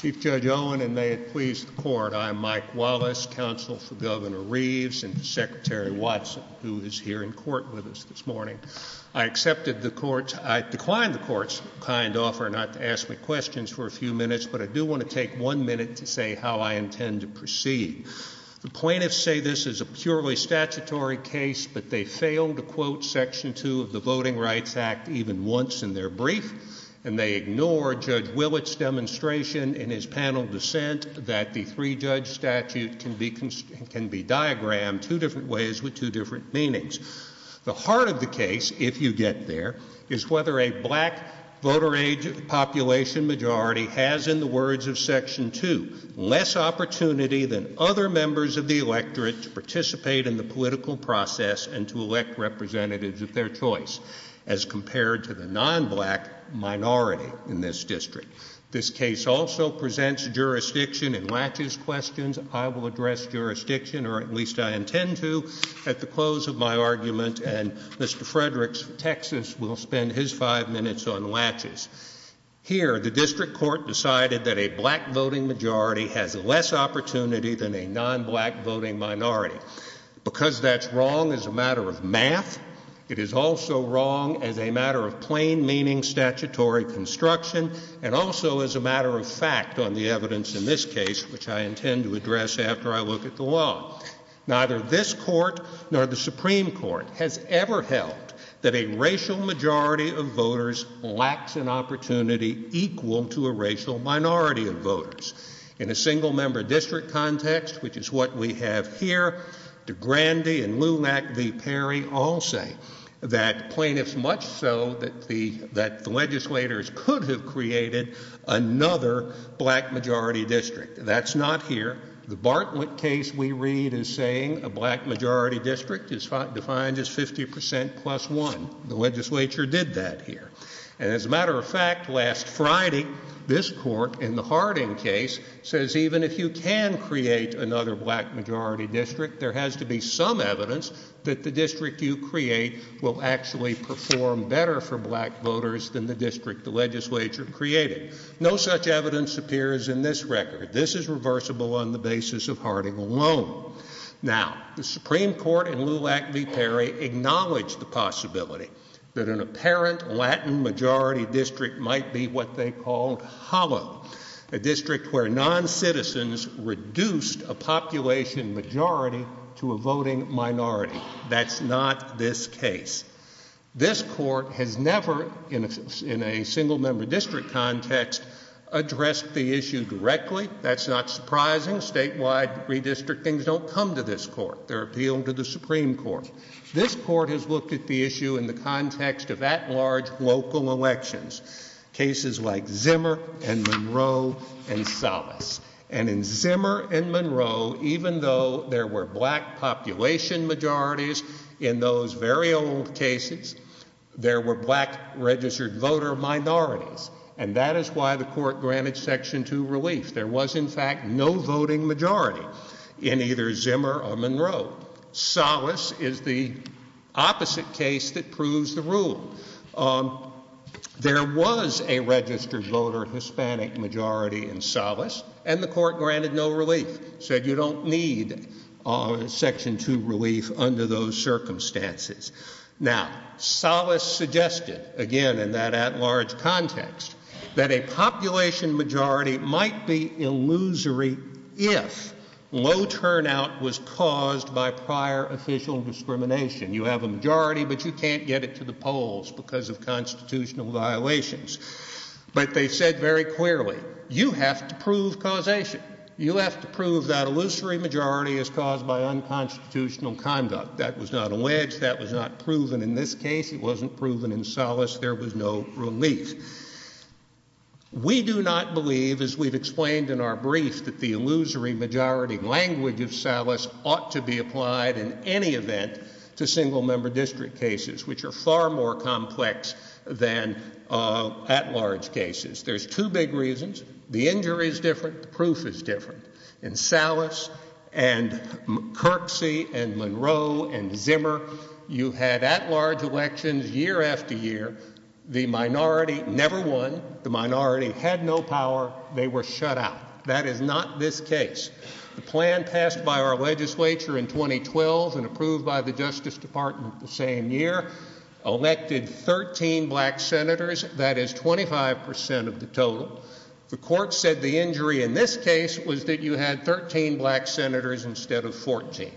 Chief Judge Owen, and may it please the court, I am Mike Wallace, counsel for Governor Reeves and Secretary Watson, who is here in court with us this morning. I accepted the court's – I declined the court's kind offer not to ask me questions for a few minutes, but I do want to take one minute to say how I intend to proceed. The plaintiffs say this is a purely statutory case, but they failed to quote Section 2 of the Voting Rights Act even once in their brief, and they ignored Judge Willett's demonstration in his panel dissent that the three-judge statute can be diagrammed two different ways with two different meanings. The heart of the case, if you get there, is whether a black voter age population majority has, in the words of Section 2, less opportunity than other members of the electorate to participate in the political process and to elect representatives of their choice, as compared to the non-black minority in this district. This case also presents jurisdiction in laches questions. I will address jurisdiction, or at least I intend to, at the close of my argument, and Mr. Fredericks of Texas will spend his five minutes on laches. Here, the district court decided that a black voting majority has less opportunity than a non-black voting minority. Because that's wrong as a matter of math, it is also wrong as a matter of plain-meaning statutory construction, and also as a matter of fact on the evidence in this case, which I intend to address after I look at the law. Neither this court nor the Supreme Court has ever held that a racial majority of voters lacks an opportunity equal to a racial minority of voters. In a single member district context, which is what we have here, DeGrande and Lumac v. Perry all say that plaintiffs, much so that the legislators could have created another black majority district. That's not here. The Bartlett case we read is saying a black majority district is defined as 50% plus 1. The legislature did that here. And as a matter of fact, last Friday, this court in the Harding case says even if you can create another black majority district, there has to be some evidence that the district you create will actually perform better for black voters than the district the legislature created. No such evidence appears in this record. This is reversible on the basis of Harding alone. Now, the Supreme Court and Lumac v. Perry acknowledge the possibility that an apparent Latin majority district might be what they called hollow, a district where noncitizens reduced a population majority to a voting minority. That's not this case. This court has never, in a single member district context, addressed the issue directly. That's not surprising. Statewide redistrictings don't come to this court. They're appealed to the context of at-large local elections, cases like Zimmer and Monroe and Salas. And in Zimmer and Monroe, even though there were black population majorities in those very old cases, there were black registered voter minorities. And that is why the court granted Section 2 relief. There was in fact no voting majority in either Zimmer or Monroe. Salas is the opposite case that proves the rule. There was a registered voter Hispanic majority in Salas and the court granted no relief, said you don't need Section 2 relief under those circumstances. Now, Salas suggested again in that at-large context that a population majority might be illusory if low turnout was caused by prior official discrimination. You have a majority, but you can't get it to the polls because of constitutional violations. But they said very clearly, you have to prove causation. You have to prove that illusory majority is caused by unconstitutional conduct. That was not alleged. That was not proven in this case. It wasn't proven in Salas. There was no relief. We do not believe, as we've explained in our brief, that the illusory majority language of Salas ought to be applied in any event to single-member district cases, which are far more complex than at-large cases. There's two big reasons. The injury is different. The proof is different. In Salas and Kirksey and Monroe and Zimmer, you had at-large elections year after year. The minority never won. The minority had no power. They were shut out. That is not this case. The plan passed by our legislature in 2012 and approved by the Justice Department the same year elected 13 black senators. That is 25% of the total. The court said the injury in this case was that you had 13 black senators instead of 14.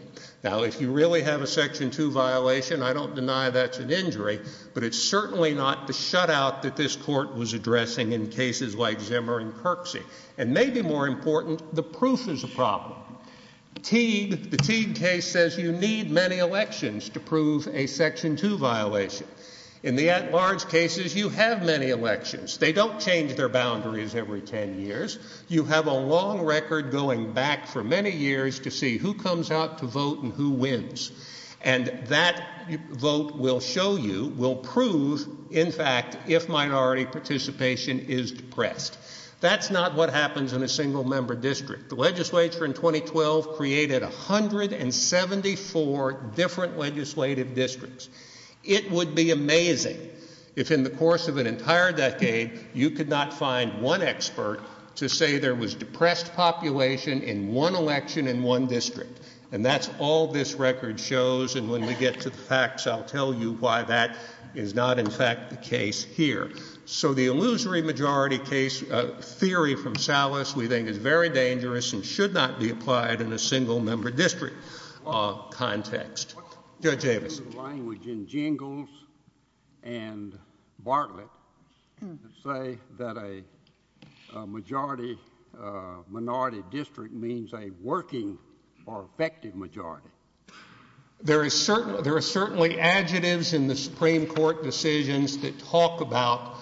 Now, if you really have a Section 2 violation, I don't deny that's an injury, but it's certainly not the shutout that this court was addressing in cases like Zimmer and Kirksey. And maybe more important, the proof is a problem. Teague, the Teague case, says you need many elections to prove a Section 2 violation. In the at-large cases, you have many elections. They don't change their boundaries every 10 years. You have a long record going back for many years to see who comes out to vote and who wins. And that vote will show you, will prove, in fact, if minority participation is depressed. That's not what happens in a single-member district. The legislature in 2012 created 174 different legislative districts. It would be amazing if in the course of an entire decade you could not find one expert to say there was depressed population in one election in one district. And that's all this record shows. And when we get to the facts, I'll tell you why that is not, in fact, the case here. So the illusory majority case theory from Salas we think is very dangerous and should not be applied in a single-member district context. Judge Avison. There is language in Jingles and Bartlett to say that a majority-minority district means a working or effective majority. There are certainly adjectives in the Supreme Court decisions that talk about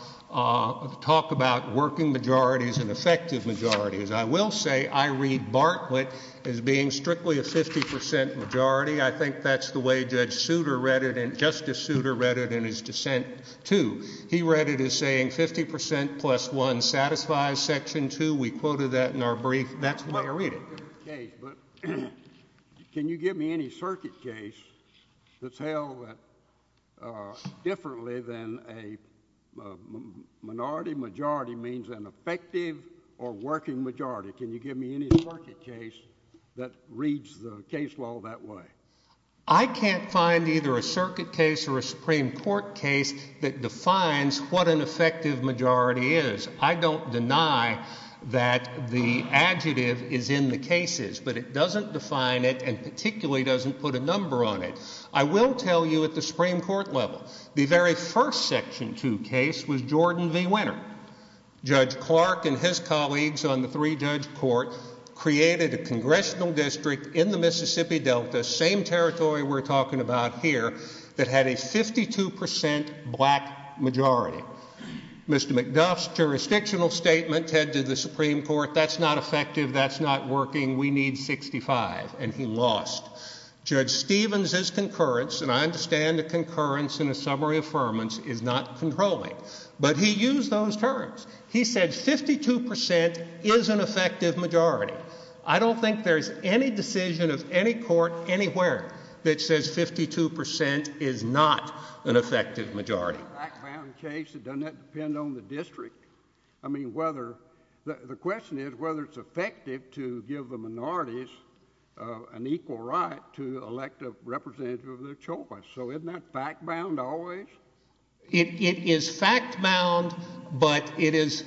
working majorities and effective majorities. I will say I read 50% majority. I think that's the way Judge Souter read it and Justice Souter read it in his dissent, too. He read it as saying 50% plus 1 satisfies Section 2. We quoted that in our brief. That's the way I read it. Okay, but can you give me any circuit case that's held differently than a minority-majority means an effective or working majority? Can you give me any circuit case that reads the case law that way? I can't find either a circuit case or a Supreme Court case that defines what an effective majority is. I don't deny that the adjective is in the cases, but it doesn't define it and particularly doesn't put a number on it. I will tell you at the Supreme Court level, the very first Section 2 case was Jordan v. Winner. Judge Clark and his colleagues on the three-judge court created a congressional district in the Mississippi Delta, same territory we're talking about here, that had a 52% black majority. Mr. McDuff's jurisdictional statement said to the Supreme Court, that's not effective, that's not working, we need 65, and he lost. Judge Stevens' concurrence, and I understand the concurrence in a summary affirmance, is not controlling, but he used those terms. He said 52% is an effective majority. I don't think there's any decision of any court anywhere that says 52% is not an effective majority. It's a black-bound case. It doesn't depend on the district. I mean, whether, the question is whether it's effective to give the minorities an equal right to elect a representative of their choice. So isn't that fact-bound always? It is fact-bound, but it is,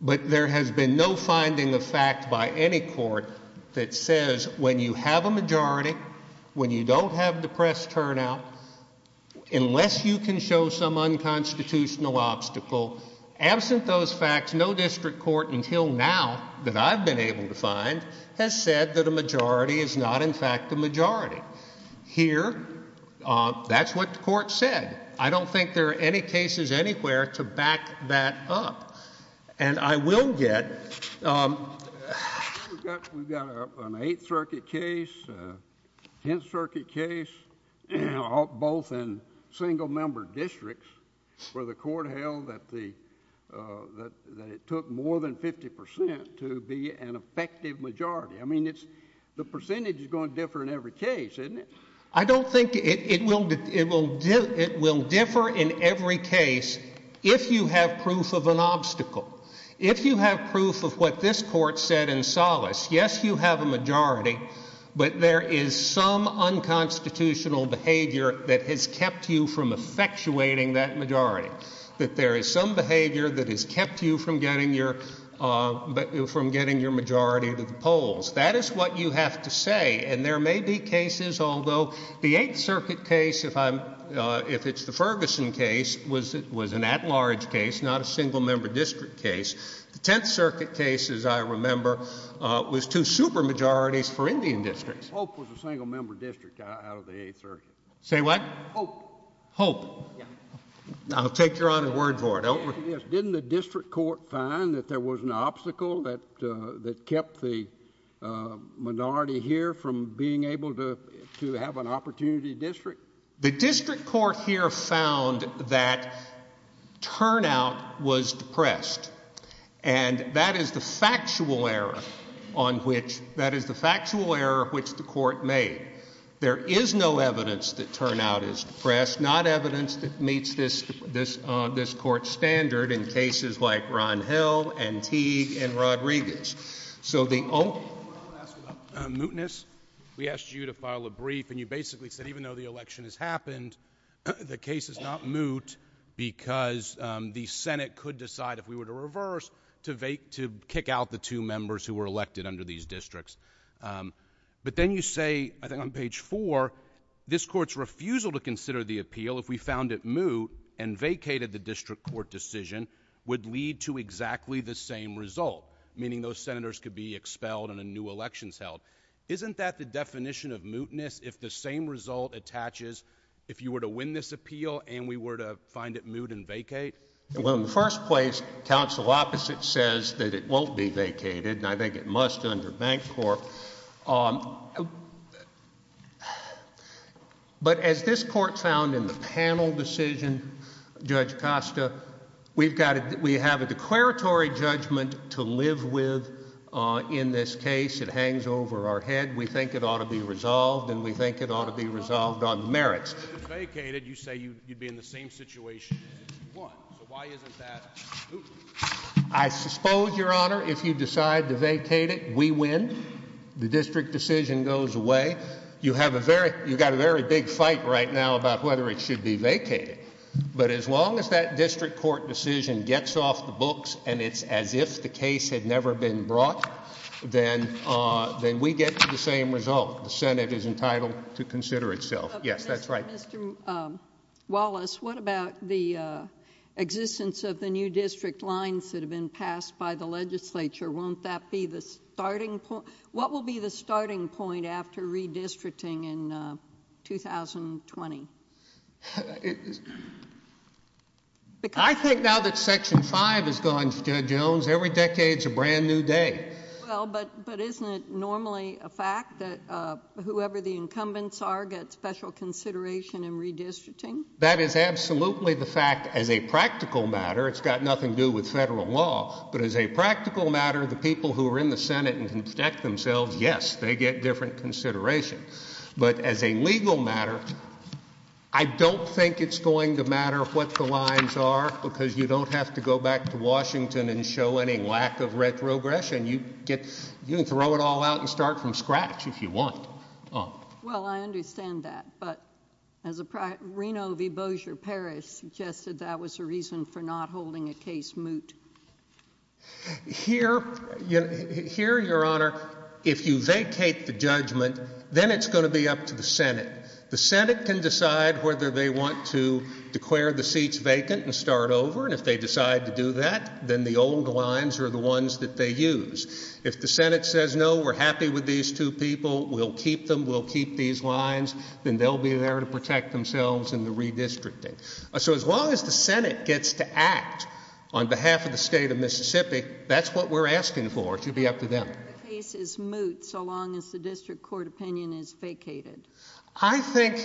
but there has been no finding of fact by any court that says when you have a majority, when you don't have depressed turnout, unless you can show some unconstitutional obstacle, absent those obstacles, that's not an effective majority. The Supreme Court, until now, that I've been able to find, has said that a majority is not, in fact, a majority. Here, that's what the court said. I don't think there are any cases anywhere to back that up, and I will get, we've got an 8th Circuit case, 10th Circuit case, both in single-member districts, where the court held that the, that it took more than 50% to be an effective majority. I mean, it's, the percentage is going to differ in every case, isn't it? I don't think it will, it will, it will differ in every case if you have proof of an obstacle. If you have proof of what this Court said in Solace, yes, you have a majority, but there is some unconstitutional behavior that has kept you from effectuating that majority, that there is some behavior that has kept you from getting your, from getting your majority to the polls. That is what you have to say, and there may be cases, although the 8th Circuit case, if I'm, if it's the Ferguson case, was an at-large case, not a single-member district case. The 10th Circuit case, as I remember, was two super-majorities for Indian districts. Hope was a single-member district out of the 8th Circuit. Say what? Hope. Hope. Yeah. I'll take Your Honor's word for it. Yes, didn't the district court find that there was an obstacle that, that kept the minority here from being able to, to have an opportunity district? The district court here found that turnout was depressed, and that is the factual error on which, that is the factual error which the court made. There is no evidence that turnout is depressed, not evidence that meets this, this, uh, this Court's standard in cases like Ron Hill and Teague and Rodriguez. So, the only... I want to ask about mootness. We asked you to file a brief, and you basically said even though the election has happened, the case is not moot because, um, the Senate could decide if we were to reverse to vacate, to kick out the two members who were elected under these districts. Um, but then you say, I think on page four, this Court's refusal to consider the appeal if we found it moot and vacated the district court decision would lead to exactly the same result, meaning those Senators could be expelled and a new election is held. Isn't that the definition of mootness, if the same result attaches if you were to win this appeal and we were to find it moot and vacate? Well, in the first place, counsel opposite says that it won't be vacated, and I think it must under Bank Corp. Um, but as this Court found in the panel decision, Judge Costa, we've got to... we have a declaratory judgment to live with, uh, in this case. It hangs over our head. We think it ought to be resolved, and we think it ought to be resolved on merits. If it's vacated, you say you'd be in the same situation as if you won. So why isn't that moot? I suppose, Your Honor, if you decide to vacate it, we win. The district decision goes away. You have a very, you've got a very big fight right now about whether it should be vacated. But as long as that district court decision gets off the books and it's as if the case had never been brought, then, uh, then we get to the same result. The Senate is entitled to consider itself. Yes, that's right. Mr. Wallace, what about the, uh, existence of the new district lines that have been passed by the Legislature? Won't that be the starting point? What will be the starting point after redistricting in, uh, 2020? I think now that Section 5 is gone, Judge Jones, every decade's a brand new day. Well, but, but isn't it normally a fact that, uh, whoever the incumbents are get special consideration in redistricting? That is absolutely the fact as a practical matter. It's got nothing to do with federal law, but as a practical matter, the people who are in the Senate and can protect themselves, yes, they get different consideration. But as a legal matter, I don't think it's going to matter what the lines are because you don't have to go back to Washington and show any lack of retrogression. You get, you can throw it all out and start from scratch if you want. Well, I understand that, but as a prior, Reno v. Bossier-Perry suggested that was a reason for not holding a case moot. Here, you know, here, Your Honor, if you vacate the judgment, then it's going to be up to the Senate. The Senate can decide whether they want to hold the lines or the ones that they use. If the Senate says, no, we're happy with these two people, we'll keep them, we'll keep these lines, then they'll be there to protect themselves in the redistricting. So as long as the Senate gets to act on behalf of the state of Mississippi, that's what we're asking for. It should be up to them. The case is moot so long as the district court opinion is vacated. I think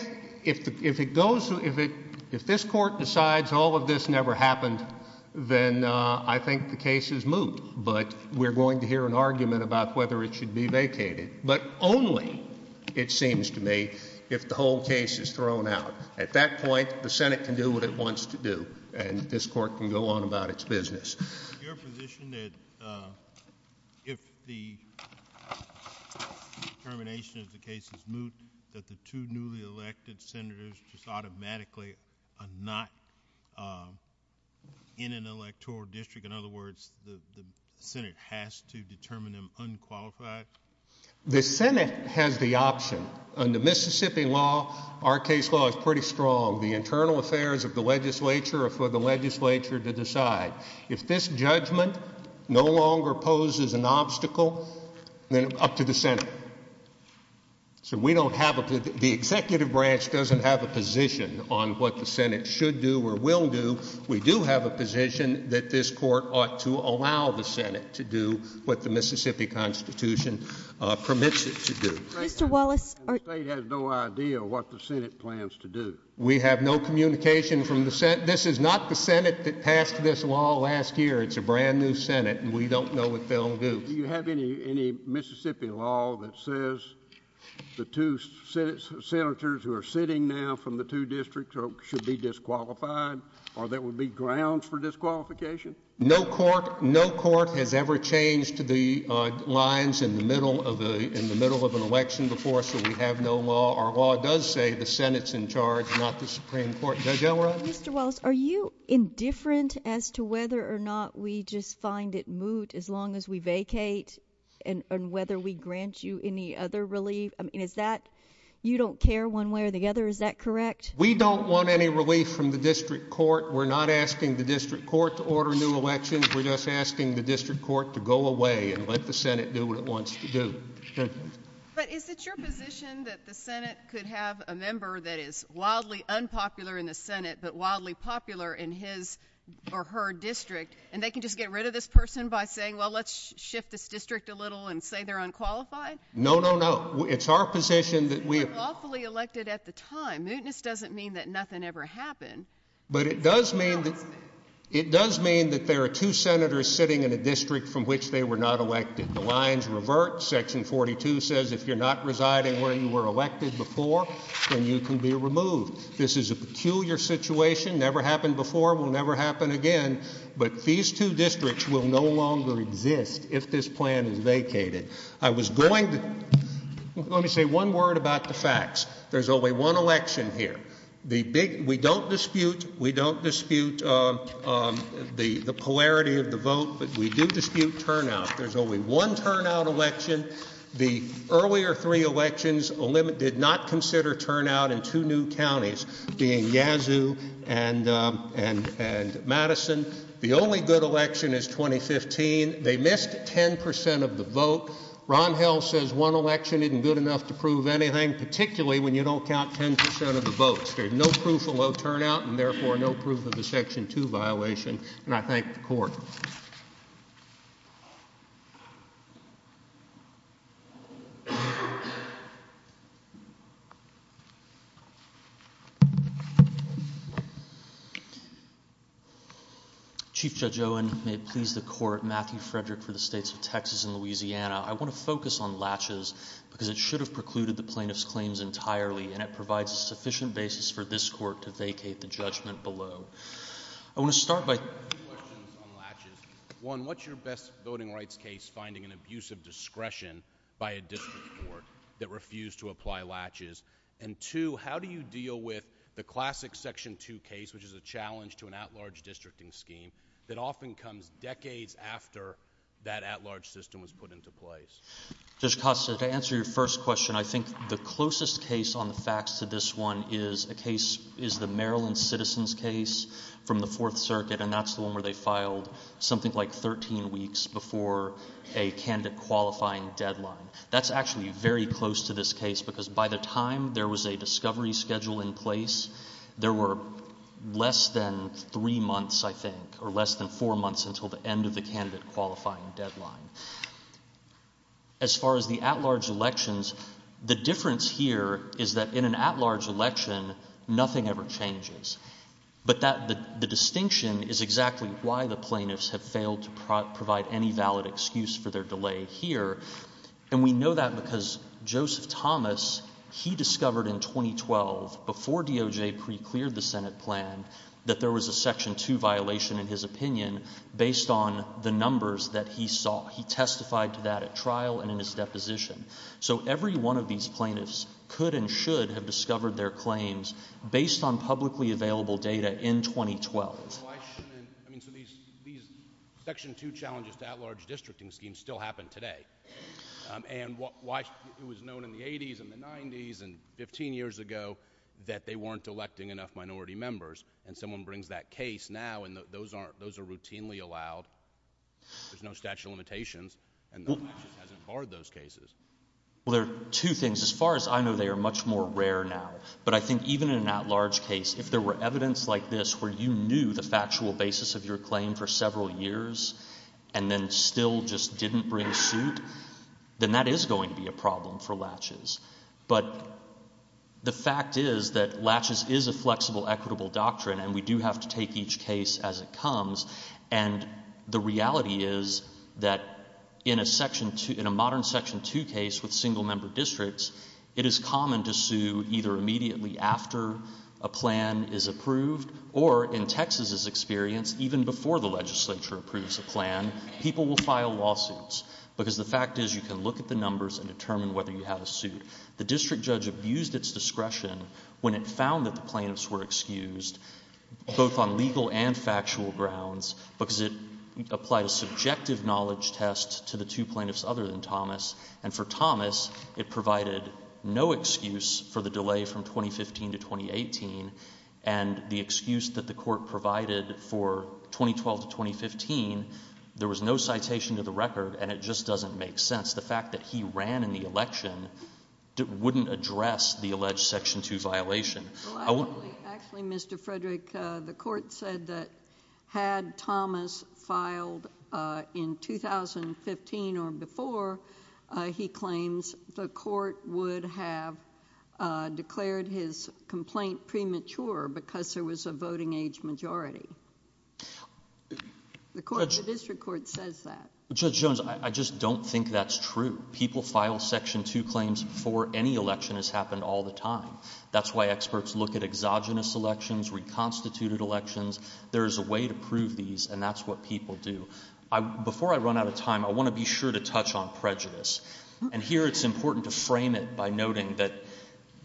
if, if it goes, if it, if this court decides all of this never happened, then I think the case is moot. But we're going to hear an argument about whether it should be vacated. But only, it seems to me, if the whole case is thrown out. At that point, the Senate can do what it wants to do, and this court can go on about its business. Your position that if the determination of the case is moot, that the two newly elected Senators just automatically are not in an electoral district? In other words, the Senate has to determine them unqualified? The Senate has the option. Under Mississippi law, our case law is pretty strong. The internal affairs of the legislature are for the legislature to decide. If this judgment no longer poses an obstacle, then up to the Senate. So we don't have, the executive branch doesn't have a position on what the Senate should do or will do. We do have a position that this court ought to allow the Senate to do what the Mississippi Constitution permits it to do. Mr. Wallace. The State has no idea what the Senate plans to do. We have no communication from the Senate. This is not the Senate that passed this law last year. It's a brand new Senate, and we don't know what they'll do. Do you have any, any Mississippi law that says the two Senators who are sitting now from the two districts should be disqualified, or there would be grounds for disqualification? No court, no court has ever changed the lines in the middle of the, in the middle of an election before, so we have no law. Our law does say the Senate's in charge, not the Supreme Court. Judge Elrod. Mr. Wallace, are you indifferent as to whether or not we just find it moot as long as we vacate, and whether we grant you any other relief? I mean, is that, you don't care one way or the other, is that correct? We don't want any relief from the district court. We're not asking the district court to order new elections. We're just asking the district court to go away and let the Senate do what it wants to do. But is it your position that the Senate could have a member that is wildly unpopular in the Senate, but wildly popular in his or her district, and they can just get rid of this person by saying, well, let's shift this district a little and say they're unqualified? No, no, no. It's our position that we— They were lawfully elected at the time. Mootness doesn't mean that nothing ever happened. But it does mean that, it does mean that there are two Senators sitting in a district from which they were not elected. The lines revert. Section 42 says if you're not residing where you were elected before, then you can be removed. This is a peculiar situation. Never happened before, will never happen again. But these two districts will no longer exist if this plan is vacated. I was going to— Let me say one word about the facts. There's only one election here. The big— We don't dispute, we don't dispute the polarity of the vote, but we do dispute turnout. There's only one turnout election. The earlier three elections did not consider turnout in two new counties, being Yazoo and Madison. The only good election is 2015. They missed 10 percent of the vote. Ron Hell says one election isn't good enough to prove anything, particularly when you don't count 10 percent of the votes. There's no proof of low turnout. Chief Judge Owen, may it please the Court, Matthew Frederick for the states of Texas and Louisiana. I want to focus on latches because it should have precluded the plaintiff's claims entirely, and it provides a sufficient basis for this Court to vacate the judgment below. I want to start by— Two questions on latches. One, what's your best voting rights case finding an abusive discretion by a district court that refused to apply latches? And two, how do you deal with the classic Section 2 case, which is a challenge to an at-large districting scheme that often comes decades after that at-large system was put into place? Judge Costa, to answer your first question, I think the closest case on the facts to this one is a case—is the Maryland Citizens case from the Fourth Circuit, and that's the one where they filed something like 13 weeks before a candidate qualifying deadline. That's actually very close to this case because by the time there was a discovery schedule in place, there were less than three months, I think, or less than four months until the end of the candidate qualifying deadline. As far as the at-large elections, the difference here is that in an at-large election, nothing ever changes. But that—the distinction is exactly why the plaintiffs have failed to provide any valid excuse for their delay here, and we know that because Joseph Thomas, he discovered in 2012, before DOJ pre-cleared the Senate plan, that there was a Section 2 violation, in his opinion, based on the numbers that he saw. He testified to that at trial and in his deposition. So every one of these plaintiffs could and should have discovered their claims based on publicly available data in 2012. Well, why shouldn't—I mean, so these Section 2 challenges to at-large districting schemes still happen today. And why—it was known in the 80s and the 90s and 15 years ago that they weren't electing enough and those are routinely allowed, there's no statute of limitations, and Latches hasn't barred those cases. Well, there are two things. As far as I know, they are much more rare now. But I think even in an at-large case, if there were evidence like this where you knew the factual basis of your claim for several years and then still just didn't bring suit, then that is going to be a problem for Latches. But the fact is that Latches is a flexible, equitable doctrine, and we do have to take each case as it comes. And the reality is that in a modern Section 2 case with single-member districts, it is common to sue either immediately after a plan is approved or, in Texas's experience, even before the legislature approves a plan, people will file lawsuits. Because the fact is, you can look at the numbers and determine whether you had a suit. The district judge abused its discretion when it found that the plaintiffs were excused, both on legal and factual grounds, because it applied a subjective knowledge test to the two plaintiffs other than Thomas. And for Thomas, it provided no excuse for the delay from 2015 to 2018. And the excuse that the Court provided for 2012 to 2015, there was no citation to the record, and it just doesn't make sense. The fact that he ran in the election wouldn't address the alleged Section 2 violation. Actually, Mr. Frederick, the Court said that had Thomas filed in 2015 or before, he claims the Court would have declared his complaint premature because there was a voting age majority. The District Court says that. Judge Jones, I just don't think that's true. People file Section 2 claims before any election has happened all the time. That's why experts look at exogenous elections, reconstituted elections. There is a way to prove these, and that's what people do. Before I run out of time, I want to be sure to touch on prejudice. And here it's important to frame it by noting that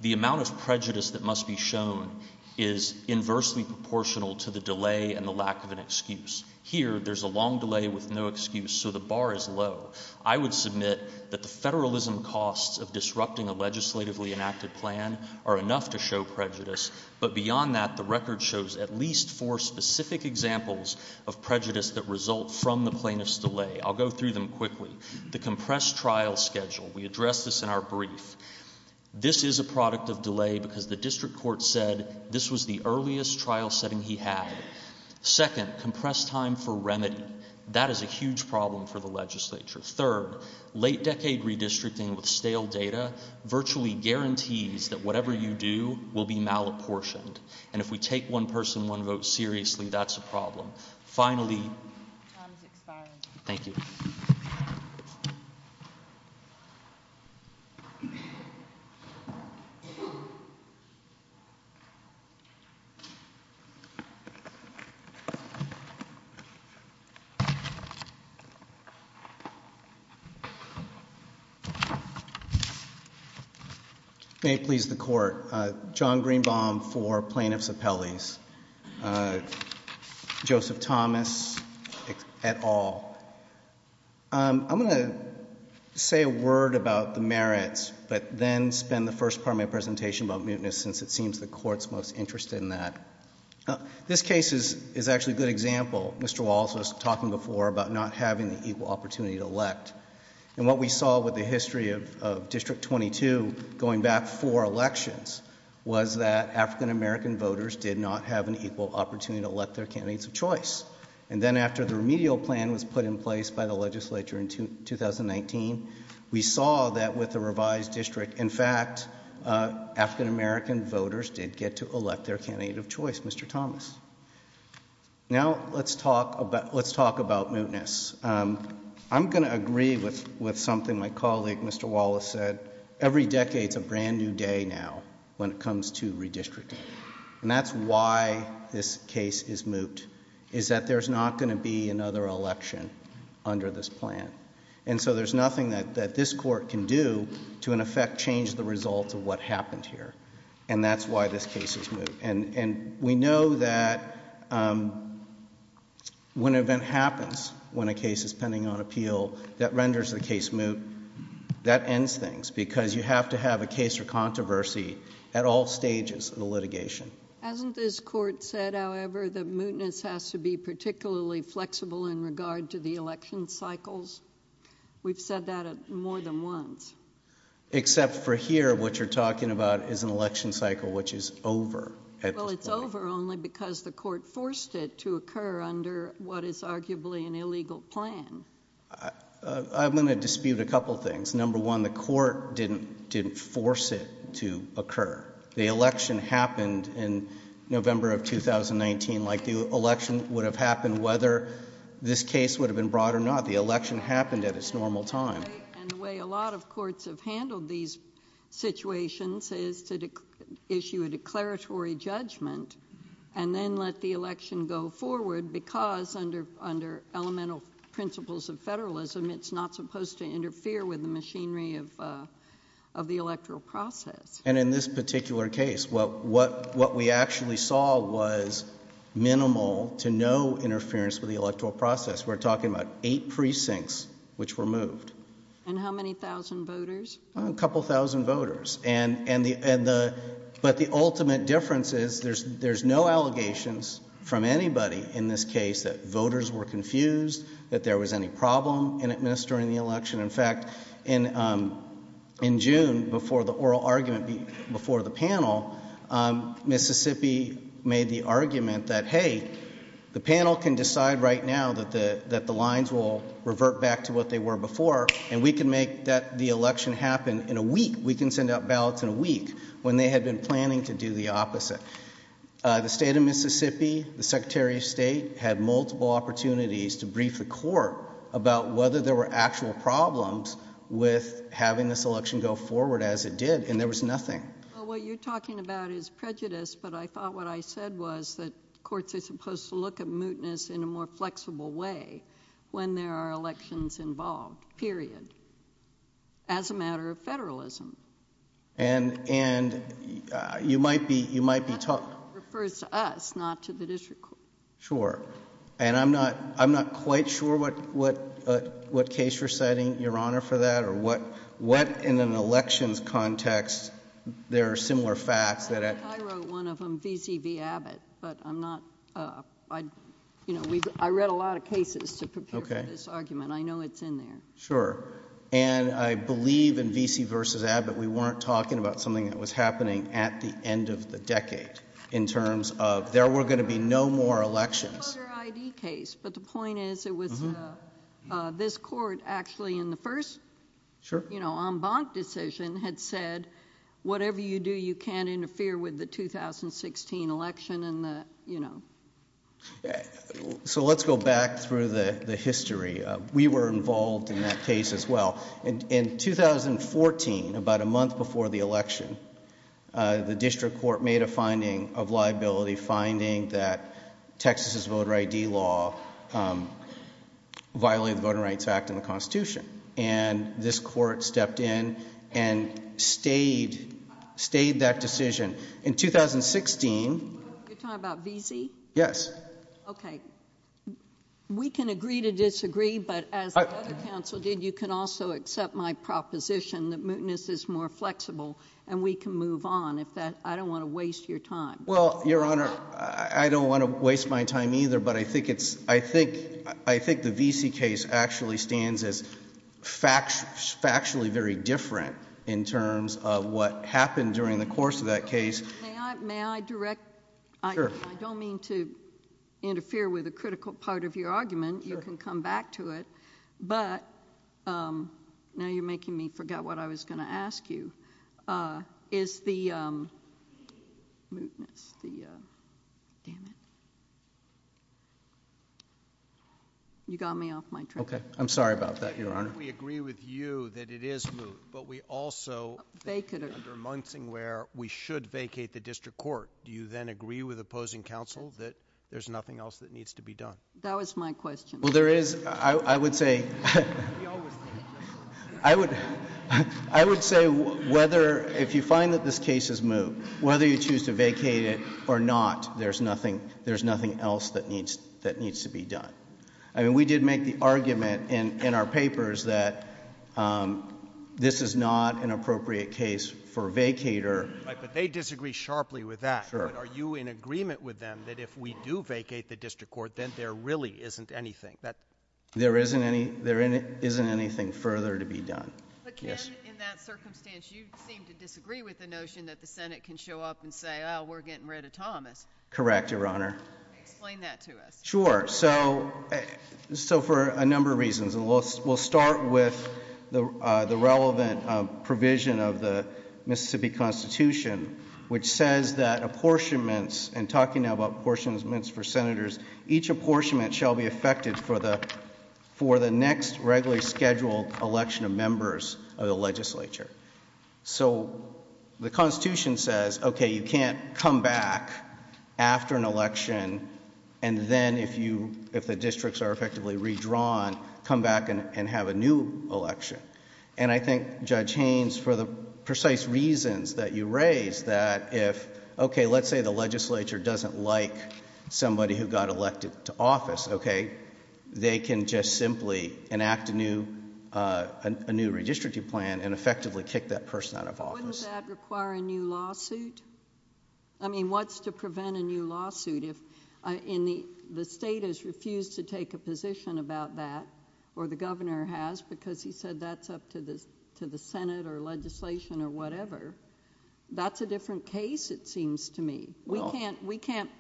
the amount of prejudice that must be shown is inversely proportional to the delay and the lack of an excuse. Here, there's a long delay with no excuse, so the bar is low. I would submit that the federalism costs of disrupting a legislatively enacted plan are enough to show prejudice, but beyond that, the record shows at least four specific examples of prejudice that result from the plaintiff's delay. I'll go through them quickly. The compressed trial schedule. We addressed this in our brief. This is a product of delay because the District Court said this was the earliest trial setting he had. Second, compressed time for remedy. That is a huge problem for the legislature. Third, late decade redistricting with stale data virtually guarantees that whatever you do will be malapportioned, and if we take one person, one vote seriously, that's a problem. Finally, thank you. May it please the Court. John Greenbaum for plaintiff's appellees. Joseph Thomas at all. I'm going to say a word about the merits, but then spend the first part of my presentation about mutinous since it seems the Court's most interested in that. This case is actually a good example. Mr. Walsh was talking before about not having the equal opportunity to elect, and what we saw with the history of District 22 going back four elections was that African-American voters did not have an equal opportunity to elect their candidates of choice, and then after the 2019, we saw that with the revised district, in fact, African-American voters did get to elect their candidate of choice, Mr. Thomas. Now let's talk about mutinous. I'm going to agree with something my colleague Mr. Wallace said. Every decade's a brand new day now when it comes to redistricting, and that's why this case is moot, is that there's not going to be another election under this plan, and so there's nothing that this Court can do to, in effect, change the result of what happened here, and that's why this case is moot, and we know that when an event happens, when a case is pending on appeal, that renders the case moot. That ends things because you have to have a case for controversy at all stages of the litigation. Hasn't this Court said, however, that mootness has to be particularly flexible in regard to the election cycles? We've said that more than once. Except for here, what you're talking about is an election cycle which is over. Well, it's over only because the Court forced it to occur under what is arguably an illegal plan. I'm going to dispute a couple things. Number one, the Court didn't force it to occur. The election happened in November of 2019 like the election would have happened whether this case would have been brought or not. The election happened at its normal time. And the way a lot of courts have handled these situations is to issue a declaratory judgment and then let the election go forward because under elemental principles of federalism, it's not supposed to interfere with the machinery of the electoral process. And in this particular case, what we actually saw was minimal to no interference with the electoral process. We're talking about eight precincts which were moved. And how many thousand voters? A couple thousand voters. But the ultimate difference is there's no allegations from the election. In fact, in June, before the oral argument before the panel, Mississippi made the argument that, hey, the panel can decide right now that the lines will revert back to what they were before and we can make the election happen in a week. We can send out ballots in a week when they had been planning to do the opposite. The State of Mississippi, the Secretary of State had multiple opportunities to brief the court about whether there were actual problems with having this election go forward as it did, and there was nothing. Well, what you're talking about is prejudice, but I thought what I said was that courts are supposed to look at mootness in a more flexible way when there are elections involved, period, as a matter of federalism. And, and you might be, you might be talking— Not to the district court. Sure. And I'm not, I'm not quite sure what, what, what case you're citing, Your Honor, for that or what, what in an elections context there are similar facts that— I wrote one of them, V.C. v. Abbott, but I'm not, I, you know, we've, I read a lot of cases to prepare for this argument. I know it's in there. Sure. And I believe in V.C. versus Abbott, we weren't talking about something that was going to be no more elections. It's a Carter I.D. case, but the point is it was, this court actually in the first— Sure. You know, en banc decision had said, whatever you do, you can't interfere with the 2016 election and the, you know. So let's go back through the, the history. We were involved in that case as well. In, in 2014, about a month before the election, the district court made a finding of liability, finding that Texas's voter I.D. law violated the Voting Rights Act and the Constitution. And this court stepped in and stayed, stayed that decision. In 2016— You're talking about V.C.? Yes. Okay. We can agree to disagree, but as the other counsel did, you can also accept my proposition that mootness is more flexible and we can move on if that, I don't want to waste your time. Well, Your Honor, I don't want to waste my time either, but I think it's, I think, I think the V.C. case actually stands as factually very different in terms of what happened during the course of that case. May I direct? Sure. I don't mean to interfere with a critical part of your argument. You can come back to it. But, um, now you're making me forget what I was going to ask you, uh, is the, um, mootness, the, uh, damn it. You got me off my track. Okay. I'm sorry about that, Your Honor. We agree with you that it is moot, but we also— They could— Under Munsing where we should vacate the district court. Do you then agree with opposing counsel that there's nothing else that needs to be done? That was my question. Well, there is, I would say, I would, I would say whether, if you find that this case is moot, whether you choose to vacate it or not, there's nothing, there's nothing else that needs, that needs to be done. I mean, we did make the argument in, in our papers that, um, this is not an appropriate case for a vacator. Right, but they disagree sharply with that. Sure. Are you in agreement with them that if we do vacate the district court, then there really isn't anything? There isn't any, there isn't anything further to be done. But, Ken, in that circumstance, you seem to disagree with the notion that the Senate can show up and say, oh, we're getting rid of Thomas. Correct, Your Honor. Explain that to us. Sure. So, so for a number of reasons, and we'll, we'll start with the, uh, the relevant, uh, provision of the Mississippi Constitution, which says that apportionments, and talking now about apportionments for senators, each apportionment shall be affected for the, for the next regularly scheduled election of members of the legislature. So the Constitution says, okay, you can't come back after an election and then if you, if the districts are effectively redrawn, come back and have a new election. And I think Judge Haynes, for the precise reasons that you raised, that if, okay, let's say the legislature doesn't like somebody who got elected to office, okay, they can just simply enact a new, uh, a new redistricting plan and effectively kick that person out of office. But wouldn't that require a new lawsuit? I mean, what's to prevent a new lawsuit if, uh, in the, the state has refused to take a position about that, or the governor has, because he said that's up to the, to the Senate or legislation or whatever. That's a different case, it seems to me. We can't, we can't,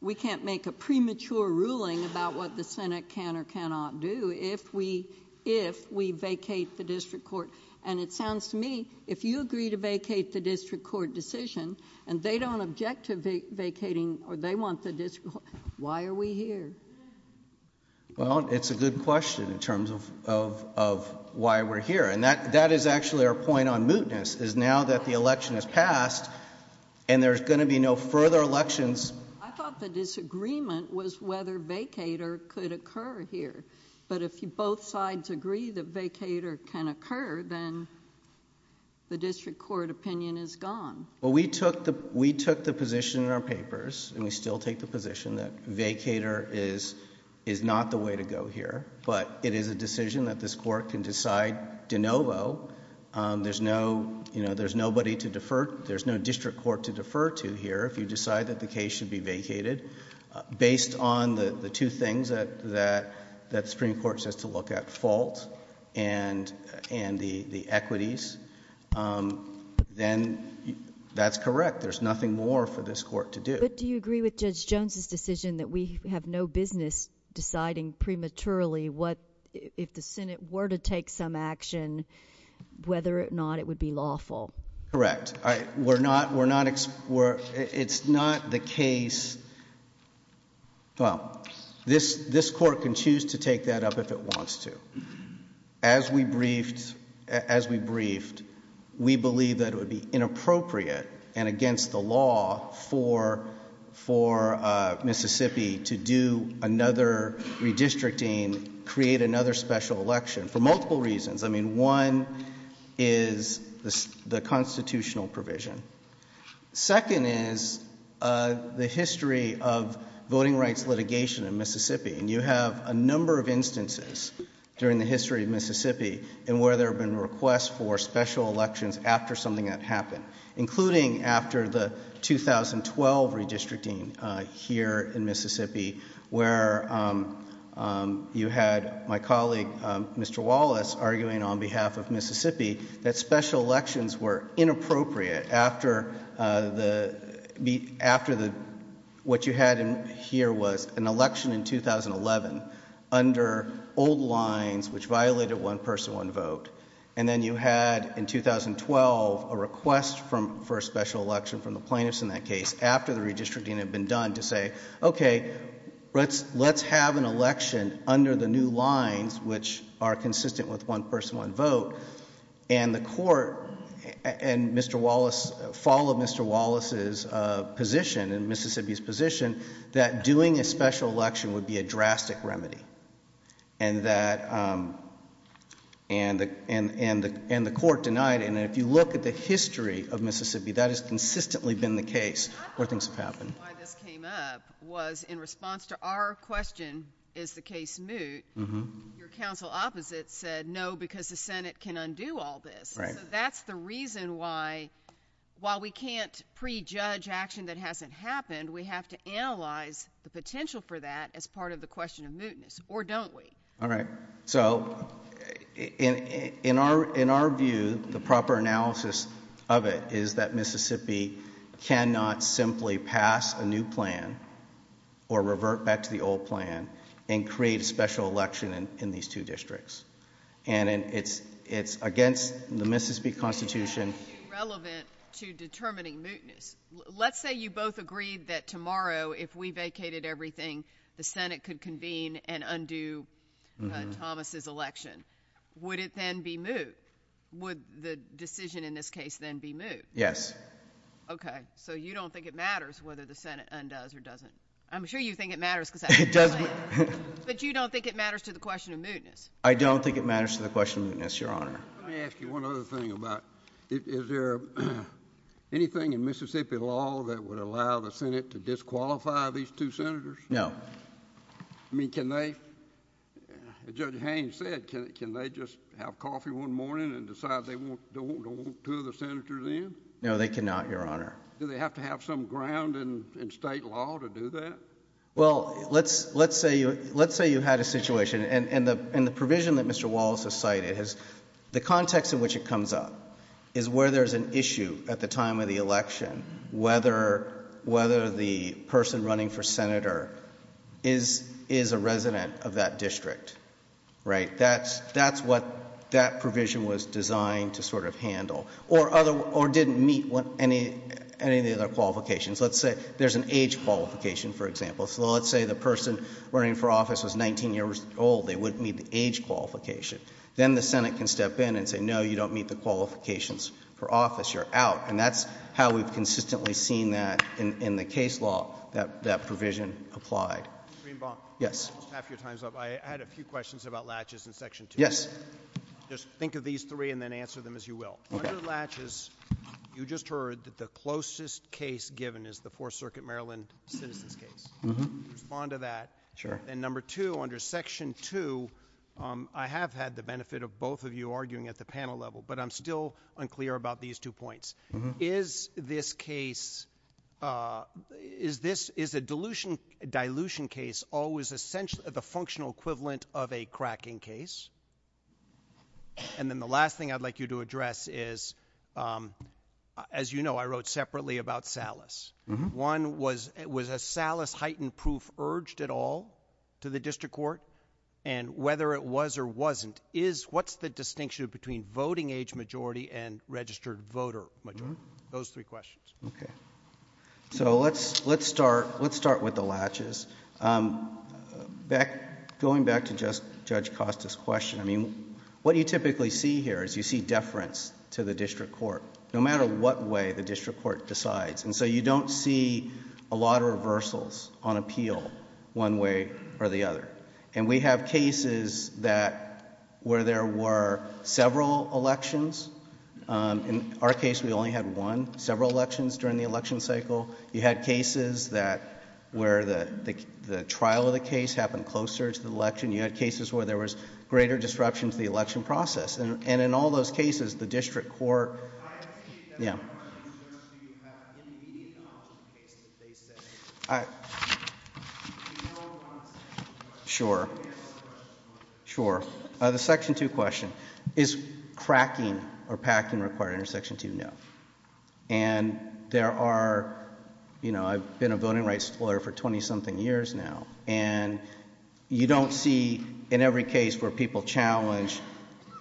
we can't make a premature ruling about what the Senate can or cannot do if we, if we vacate the district court. And it sounds to me, if you agree to vacate the district court decision and they don't object to vacating or they want the district court, why are we here? Well, it's a good question in terms of, of, of why we're here. And that, that is actually our point on mootness is now that the election has passed and there's going to be no further elections. I thought the disagreement was whether vacater could occur here, but if you both sides agree that vacater can occur, then the district court opinion is gone. Well, we took the, we took the position in our papers and we still take the position that vacater is, is not the way to go here, but it is a decision that this court can decide de novo. There's no, you know, there's nobody to defer. There's no district court to defer to here. If you decide that the case should be vacated based on the two things that, that, that Supreme Court says to look at, fault and, and the, the equities, then that's correct. There's nothing more for this court to do. But do you agree with Judge Jones's decision that we have no business deciding prematurely what, if the Senate were to take some action, whether or not it would be lawful? Correct. I, we're not, we're not, we're, it's not the case, well, this, this court can choose to take that up if it wants to. As we briefed, as we briefed, we believe that it would be inappropriate and against the law for, for Mississippi to do another redistricting, create another special election for multiple reasons. I mean, one is the constitutional provision. Second is the history of voting rights litigation in Mississippi. And you have a number of instances during the history of Mississippi and where there have been requests for special elections after something had happened, including after the 2012 redistricting here in Mississippi, where you had my colleague, Mr. Wallace, arguing on behalf of Mississippi that special elections were inappropriate after the, after the, what you had here was an election in 2011 under old lines which violated one person, one vote. And then you had in 2012 a request from, for a special election from the plaintiffs in that case after the redistricting had been done to say, okay, let's, let's have an election under the new lines which are consistent with one person, one vote. And the court and Mr. Wallace followed Mr. Wallace's position and Mississippi's position that doing a special election would be a drastic remedy. And that, um, and the, and, and the, and the court denied it. And if you look at the history of Mississippi, that has consistently been the case where I think the reason why this came up was in response to our question, is the case moot, your counsel opposite said no because the Senate can undo all this. Right. So that's the reason why, while we can't prejudge action that hasn't happened, we have to analyze the potential for that as part of the question of mootness, or don't we? All right. So in our, in our view, the proper analysis of it is that Mississippi cannot simply pass a new plan or revert back to the old plan and create a special election in these two districts. And it's, it's against the Mississippi Constitution. Relevant to determining mootness. Let's say you both agreed that tomorrow, if we vacated everything, the Senate could convene and undo Thomas's election. Would it then be moot? Would the decision in this case then be moot? Yes. Okay. So you don't think it matters whether the Senate undoes or doesn't? I'm sure you think it matters because it does. But you don't think it matters to the question of mootness? I don't think it matters to the question of mootness, Your Honor. Let me ask you one other thing about it. Is there anything in Mississippi law that would allow the Senate to disqualify these two senators? No. I mean, can they, Judge Haines said, can they just have coffee one morning and decide they won't, don't want two of the senators in? No, they cannot, Your Honor. Do they have to have some ground in state law to do that? Well, let's, let's say you, let's say you had a situation and, and the, and the provision that Mr. Wallace has cited has, the context in which it comes up is where there's an issue at the time of the election, whether, whether the person running for senator is, is a resident of that district, right? That's, that's what that provision was designed to sort of handle or other, or didn't meet what any, any of the other qualifications. Let's say there's an age qualification, for example. So let's say the person running for office was 19 years old. They wouldn't meet the age qualification. Then the Senate can step in and say, no, you don't meet the qualifications for office. You're out. And that's how we've consistently seen that in, in the case law that, that provision applied. Mr. Greenbaum. Yes. After your time's up, I had a few questions about latches in section two. Just think of these three and then answer them as you will. Okay. Under latches, you just heard that the closest case given is the Fourth Circuit, Maryland citizens case. Mm-hmm. Respond to that. Sure. And number two, under section two, um, I have had the benefit of both of you arguing at the panel level, but I'm still unclear about these two points. Mm-hmm. Is this case, uh, is this, is a dilution, dilution case always essentially the functional equivalent of a cracking case? And then the last thing I'd like you to address is, um, as you know, I wrote separately about Salas. Mm-hmm. One was, was a Salas heightened proof urged at all to the district court? And whether it was or wasn't, is, what's the distinction between voting age majority and registered voter majority? Those three questions. Okay. So let's, let's start, let's start with the latches. Um, back, going back to just Judge Costa's question, I mean, what you typically see here is you see deference to the district court, no matter what way the district court decides. And so you don't see a lot of reversals on appeal one way or the other. And we have cases that, where there were several elections, um, in our case, we only had one, several elections during the election cycle. You had cases that, where the, the trial of the case happened closer to the election. You had cases where there was greater disruption to the election process. And in all those cases, the district court. Yeah. Sure. Sure. Uh, the section two question is cracking or packing required under section two? No. And there are, you know, I've been a voting rights lawyer for 20 something years now. And you don't see in every case where people challenge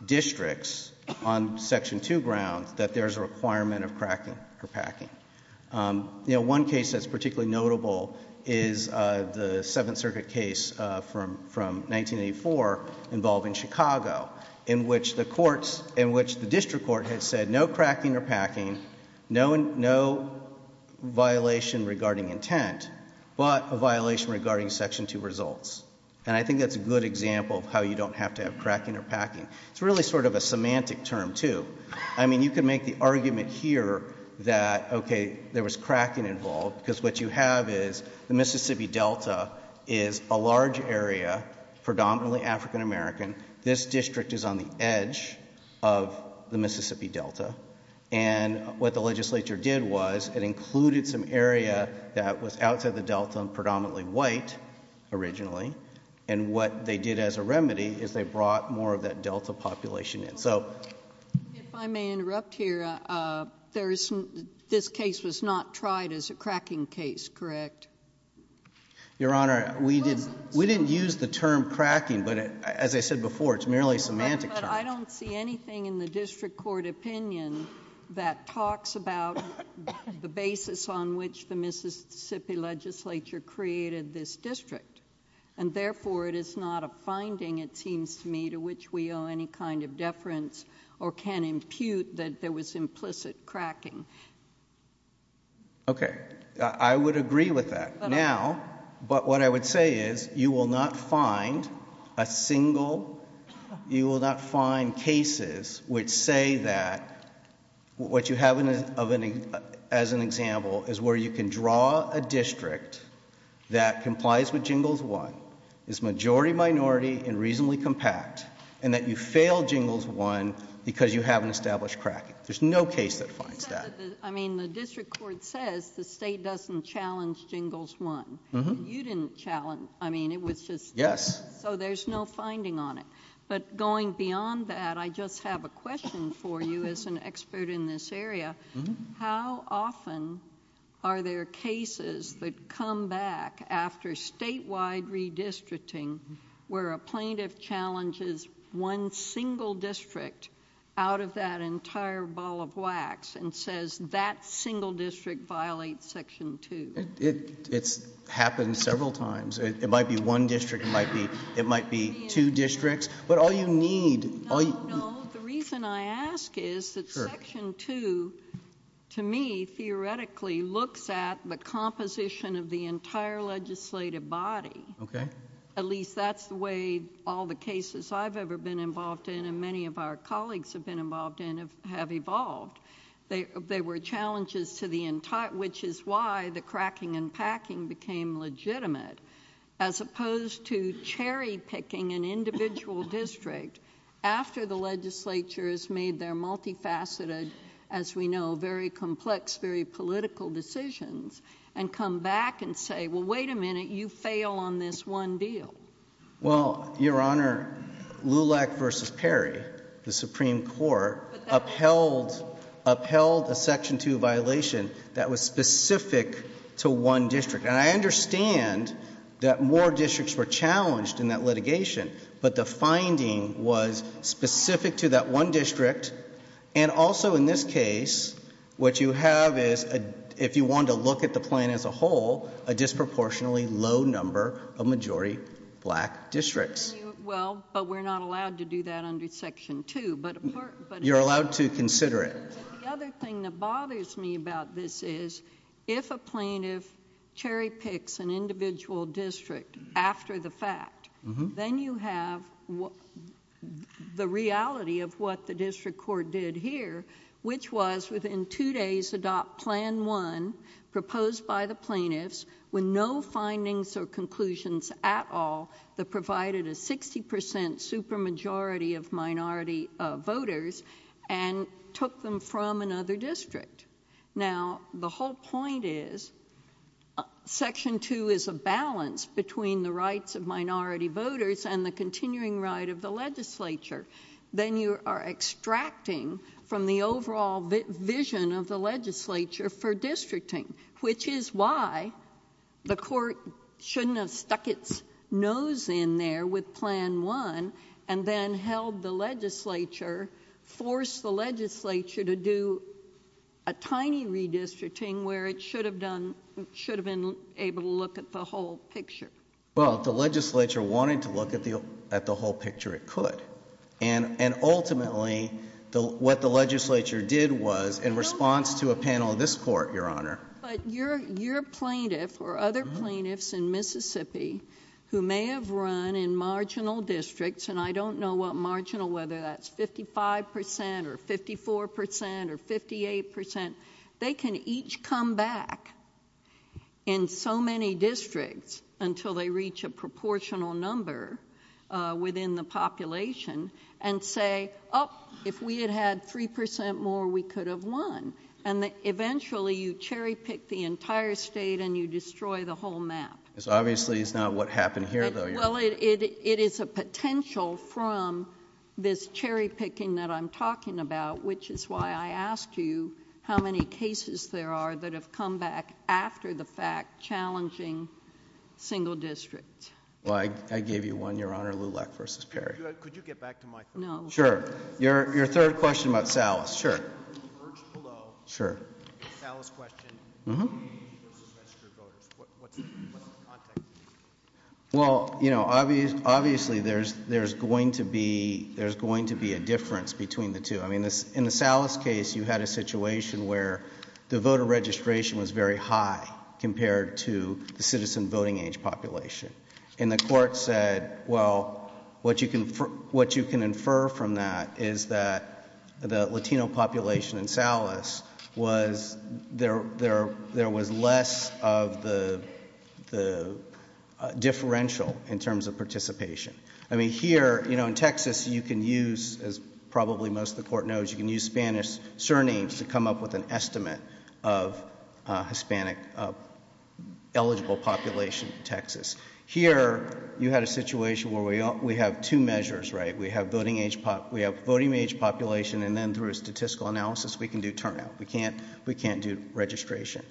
districts on section two grounds that there's a requirement of cracking or packing. Um, you know, one case that's particularly notable is, uh, the Seventh Circuit case, uh, from, from 1984 involving Chicago, in which the courts, in which the district court had said no cracking or packing, no, no violation regarding intent, but a violation regarding section two results. And I think that's a good example of how you don't have to have cracking or packing. It's really sort of a semantic term too. I mean, you can make the argument here that, okay, there was cracking involved because what you have is the Mississippi Delta is a large area, predominantly African American. This district is on the edge of the Mississippi Delta. And what the legislature did was it included some area that was outside the Delta and originally. And what they did as a remedy is they brought more of that Delta population in. So. If I may interrupt here, uh, uh, there's, this case was not tried as a cracking case, correct? Your Honor, we didn't, we didn't use the term cracking, but as I said before, it's merely a semantic term. I don't see anything in the district court opinion that talks about the basis on which the Mississippi legislature created this district. And therefore it is not a finding, it seems to me, to which we owe any kind of deference or can impute that there was implicit cracking. Okay. I would agree with that now, but what I would say is you will not find a single, you will not find cases which say that what you have as an example is where you can draw a district that complies with Jingles 1, is majority minority and reasonably compact, and that you fail Jingles 1 because you haven't established cracking. There's no case that finds that. I mean, the district court says the state doesn't challenge Jingles 1. Mm-hmm. You didn't challenge. I mean, it was just. Yes. So there's no finding on it. But going beyond that, I just have a question for you as an expert in this area. How often are there cases that come back after statewide redistricting where a plaintiff challenges one single district out of that entire ball of wax and says that single district violates Section 2? It's happened several times. It might be one district. It might be two districts. But all you need. No, no. The reason I ask is that Section 2, to me, theoretically looks at the composition of the entire legislative body. Okay. At least that's the way all the cases I've ever been involved in and many of our colleagues have been involved in have evolved. There were challenges to the entire, which is why the cracking and packing became legitimate. As opposed to cherry picking an individual district after the legislature has made their multifaceted, as we know, very complex, very political decisions and come back and say, well, wait a minute. You fail on this one deal. Well, Your Honor, Lulak v. Perry, the Supreme Court, upheld a Section 2 violation that was specific to one district. And I understand that more districts were challenged in that litigation, but the finding was specific to that one district. And also, in this case, what you have is, if you want to look at the plan as a whole, a disproportionately low number of majority black districts. Well, but we're not allowed to do that under Section 2. You're allowed to consider it. The other thing that bothers me about this is, if a plaintiff cherry picks an individual district after the fact, then you have the reality of what the district court did here, which was, within two days, adopt Plan 1, proposed by the plaintiffs, with no findings or conclusions at all, that provided a 60 percent super majority of minority voters, and took them from another district. Now, the whole point is, Section 2 is a balance between the rights of minority voters and the continuing right of the legislature. Then you are extracting from the overall vision of the legislature for districting, which is why the court shouldn't have stuck its nose in there with Plan 1 and then held the force the legislature to do a tiny redistricting, where it should have been able to look at the whole picture. Well, the legislature wanted to look at the whole picture it could. And ultimately, what the legislature did was, in response to a panel of this court, Your Honor— But your plaintiff, or other plaintiffs in Mississippi, who may have run in marginal districts, and I don't know what marginal, whether that's fifty-five percent or fifty-four percent or fifty-eight percent, they can each come back in so many districts until they reach a proportional number within the population and say, oh, if we had had three percent more, we could have won. And eventually, you cherry-pick the entire state and you destroy the whole map. Obviously, it's not what happened here, though, Your Honor. Well, it is a potential from this cherry-picking that I'm talking about, which is why I asked you how many cases there are that have come back after the fact, challenging single districts. Well, I gave you one, Your Honor. Lulek v. Perry. Could you get back to my point? No. Sure. Your third question about Salas. Sure. Sure. Salas question. Well, you know, obviously there's going to be a difference between the two. I mean, in the Salas case, you had a situation where the voter registration was very high compared to the citizen voting age population. And the court said, well, what you can infer from that is that the Latino population in there was less of the differential in terms of participation. I mean, here, you know, in Texas, you can use, as probably most of the court knows, you can use Spanish surnames to come up with an estimate of Hispanic eligible population in Texas. Here, you had a situation where we have two measures, right? We have voting age population, and then through a statistical analysis, we can do turnout. We can't do registration.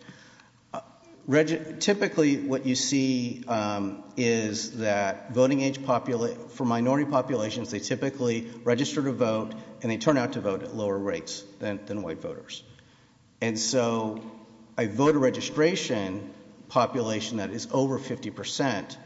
Typically, what you see is that voting age for minority populations, they typically register to vote, and they turn out to vote at lower rates than white voters. And so a voter registration population that is over 50%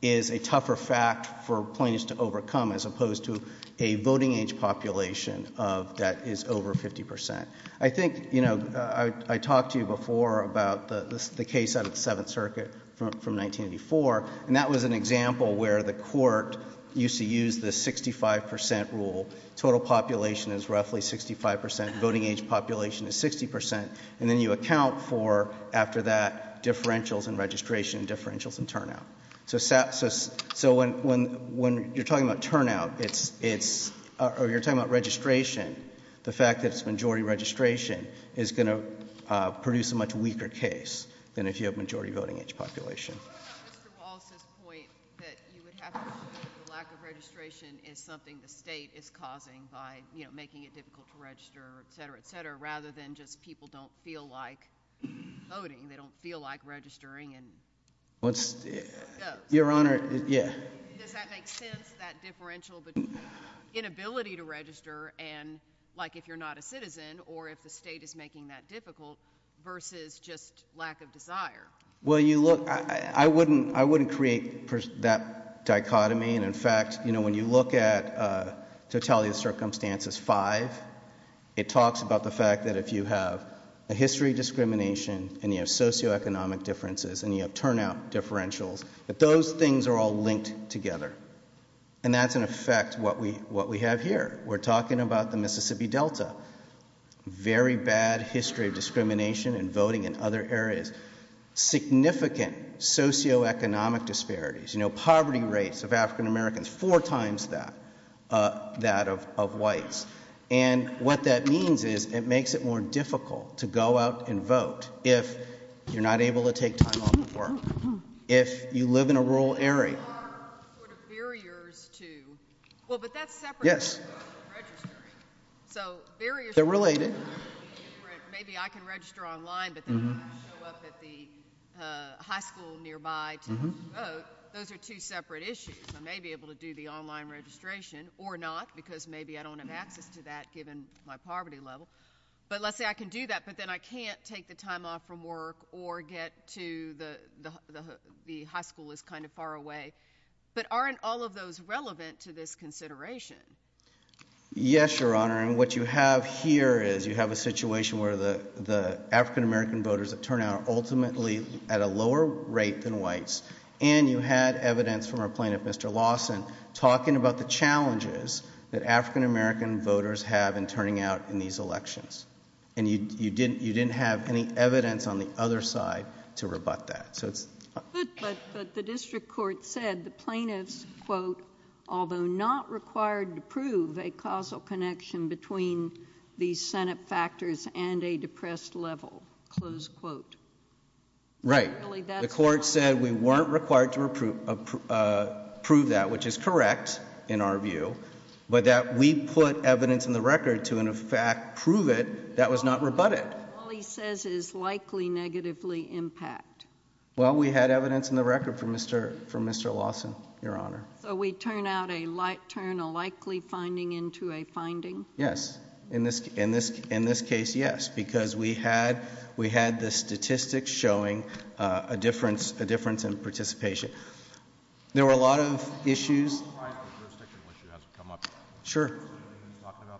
is a tougher fact for plaintiffs to overcome as opposed to a voting age population that is over 50%. I think, you know, I talked to you before about the case out of the Seventh Circuit from 1984, and that was an example where the court used to use the 65% rule. Total population is roughly 65%. Voting age population is 60%. And then you account for, after that, differentials in registration, differentials in turnout. So when you're talking about turnout, it's, or you're talking about registration, the fact that it's majority registration is going to produce a much weaker case than if you have majority voting age population. What about Mr. Wallace's point that you would have to assume that the lack of registration is something the state is causing by, you know, making it difficult to register, et cetera, et cetera, rather than just people don't feel like voting, they don't feel like registering and, you know. Your Honor, yeah. Does that make sense? That differential between inability to register and, like, if you're not a citizen or if the state is making that difficult versus just lack of desire. Well, you look, I wouldn't, I wouldn't create that dichotomy. And in fact, you know, when you look at Totality of Circumstances V, it talks about the fact that if you have a history of discrimination and you have socioeconomic differences and you have turnout differentials, that those things are all linked together. And that's, in effect, what we, what we have here. We're talking about the Mississippi Delta, very bad history of discrimination and voting in other areas, significant socioeconomic disparities, you know, poverty rates of African Americans, four times that, that of, of whites. And what that means is it makes it more difficult to go out and vote if you're not able to take time off from work, if you live in a rural area. There are sort of barriers to, well, but that's separate. Yes. So barriers. They're related. Maybe I can register online, but then I show up at the high school nearby to vote. Those are two separate issues. I may be able to do the online registration or not, because maybe I don't have access to that given my poverty level, but let's say I can do that. But then I can't take the time off from work or get to the, the, the, the high school is kind of far away. But aren't all of those relevant to this consideration? Yes, Your Honor. And what you have here is you have a situation where the, the African American voters that turn out ultimately at a lower rate than whites. And you had evidence from our plaintiff, Mr. Lawson, talking about the challenges that African American voters have in turning out in these elections. And you, you didn't, you didn't have any evidence on the other side to rebut that. So it's. But the district court said the plaintiff's quote, although not required to prove a causal connection between the Senate factors and a depressed level, close quote. Right. The court said we weren't required to approve, approve that, which is correct in our view, but that we put evidence in the record to, in fact, prove it. That was not rebutted. All he says is likely negatively impact. Well, we had evidence in the record for Mr., for Mr. Lawson, Your Honor. So we turn out a light, turn a likely finding into a finding. Yes. In this, in this, in this case, yes, because we had, we had the statistics showing a difference, a difference in participation. There were a lot of issues. Sure.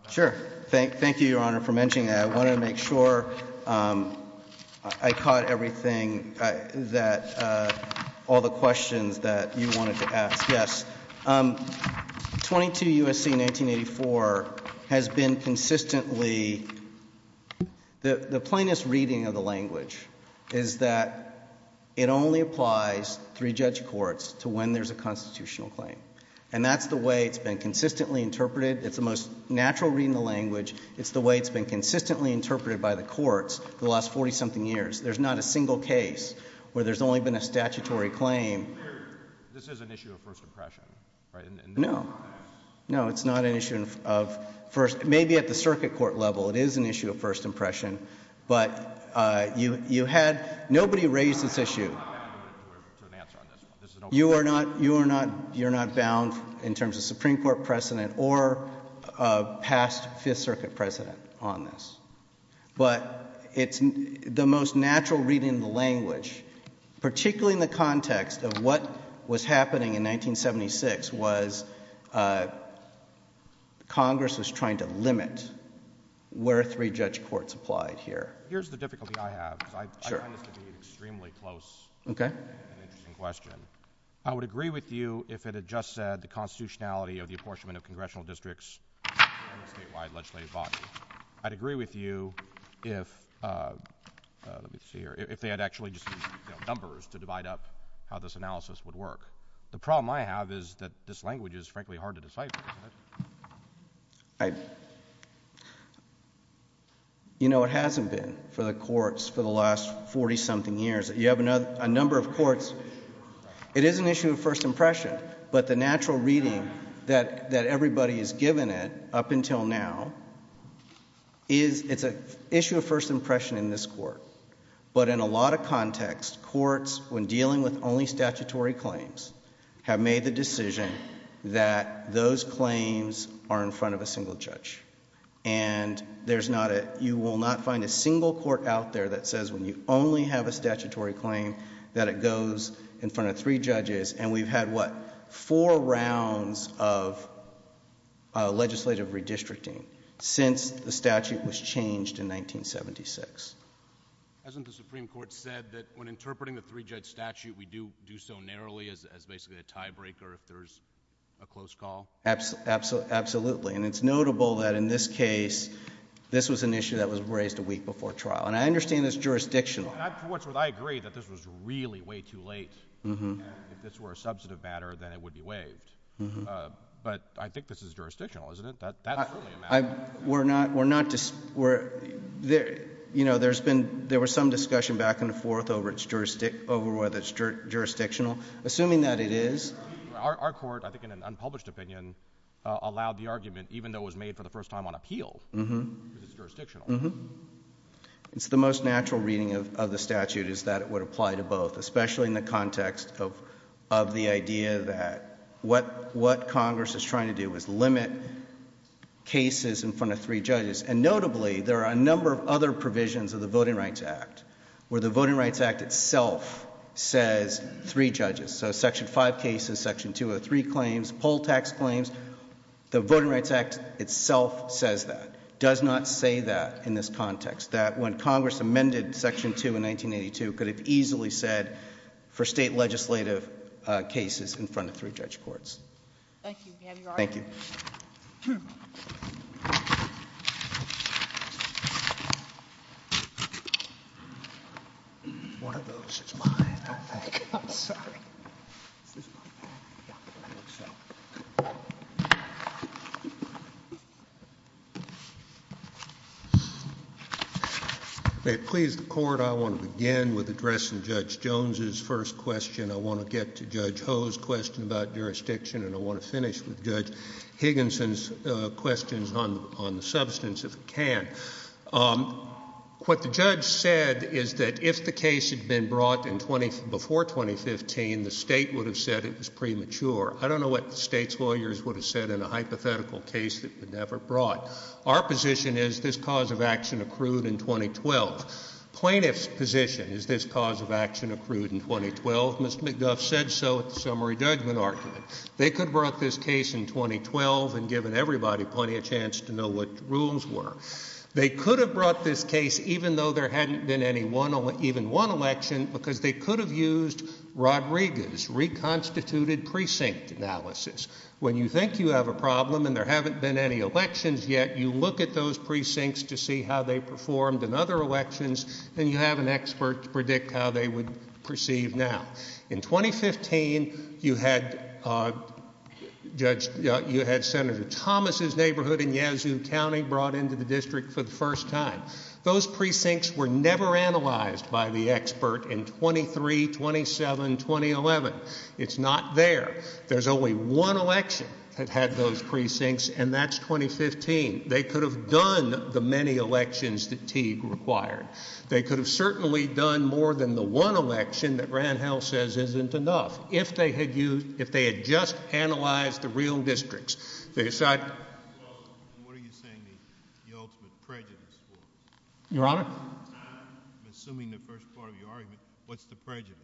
Sure. Thank, thank you, Your Honor, for mentioning that. I want to make sure I caught everything that, all the questions that you wanted to ask. Yes. 22 U.S.C. 1984 has been consistently, the plaintiff's reading of the language is that it only applies three judge courts to when there's a constitutional claim. And that's the way it's been consistently interpreted. It's the most natural reading of the language. It's the way it's been consistently interpreted by the courts the last 40-something years. There's not a single case where there's only been a statutory claim. This is an issue of first impression, right? No. No, it's not an issue of first, maybe at the circuit court level, it is an issue of first impression. But you, you had, nobody raised this issue. I'm not going to answer on this one. You are not, you are not, you're not bound in terms of Supreme Court precedent or past Fifth Circuit precedent on this. But it's the most natural reading of the language, particularly in the context of what was happening in 1976 was Congress was trying to limit where three judge courts applied here. Here's the difficulty I have. Because I find this to be an extremely close and interesting question. I would agree with you if it had just said the constitutionality of the apportionment of congressional districts and the statewide legislative body. I'd agree with you if, let me see here, if they had actually just used numbers to divide up how this analysis would work. The problem I have is that this language is frankly hard to decipher. You know, it hasn't been for the courts for the last 40-something years. You have a number of courts, it is an issue of first impression, but the natural reading that everybody has given it up until now is it's an issue of first impression in this court. But in a lot of contexts, courts, when dealing with only statutory claims, have made the decision that those claims are in front of a single judge. And there's not a, you will not find a single court out there that says when you only have a statutory claim that it goes in front of three judges. And we've had, what, four rounds of legislative redistricting since the statute was changed in 1976. Hasn't the Supreme Court said that when interpreting the three-judge statute, we do so narrowly as basically a tiebreaker if there's a close call? Absolutely. And it's notable that in this case, this was an issue that was raised a week before trial. And I understand it's jurisdictional. Well, for what's worth, I agree that this was really way too late. If this were a substantive matter, then it would be waived. But I think this is jurisdictional, isn't it? That's certainly a matter. We're not, we're not, you know, there's been, there was some discussion back and forth over whether it's jurisdictional. Assuming that it is. Our court, I think in an unpublished opinion, allowed the argument, even though it was made for the first time on appeal, because it's jurisdictional. Mm-hmm. It's the most natural reading of the statute is that it would apply to both, especially in the context of the idea that what Congress is trying to do is limit cases in front of three judges. And notably, there are a number of other provisions of the Voting Rights Act where the Voting Rights Act itself says three judges. So section 5 cases, section 203 claims, poll tax claims, the Voting Rights Act itself says that. Does not say that in this context. That when Congress amended section 2 in 1982, could have easily said for state legislative cases in front of three judge courts. Thank you, ma'am, you're on. Thank you. One of those is mine, I think. I'm sorry. May it please the court, I want to begin with addressing Judge Jones's first question. I want to get to Judge Ho's question about jurisdiction, and I want to finish with Judge Higginson's questions on the substance, if we can. What the judge said is that if the case had been brought before 2015, the state would have said it was premature. I don't know what the state's lawyers would have said in a hypothetical case that would never brought. Our position is this cause of action accrued in 2012. Plaintiff's position is this cause of action accrued in 2012. Mr. McDuff said so at the summary judgment argument. They could have brought this case in 2012 and given everybody plenty of chance to know what the rules were. They could have brought this case even though there hadn't been even one election, because they could have used Rodriguez's reconstituted precinct analysis. When you think you have a problem and there haven't been any elections yet, you look at those precincts to see how they performed in other elections, and you have an expert to predict how they would proceed now. In 2015, you had Senator Thomas' neighborhood in Yazoo County brought into the district for the first time. Those precincts were never analyzed by the expert in 23, 27, 2011. It's not there. There's only one election that had those precincts, and that's 2015. They could have done the many elections that Teague required. They could have certainly done more than the one election that Randhell says isn't enough. If they had used, if they had just analyzed the real districts, they decided. Well, what are you saying the ultimate prejudice was? Your Honor? I'm assuming the first part of your argument, what's the prejudice?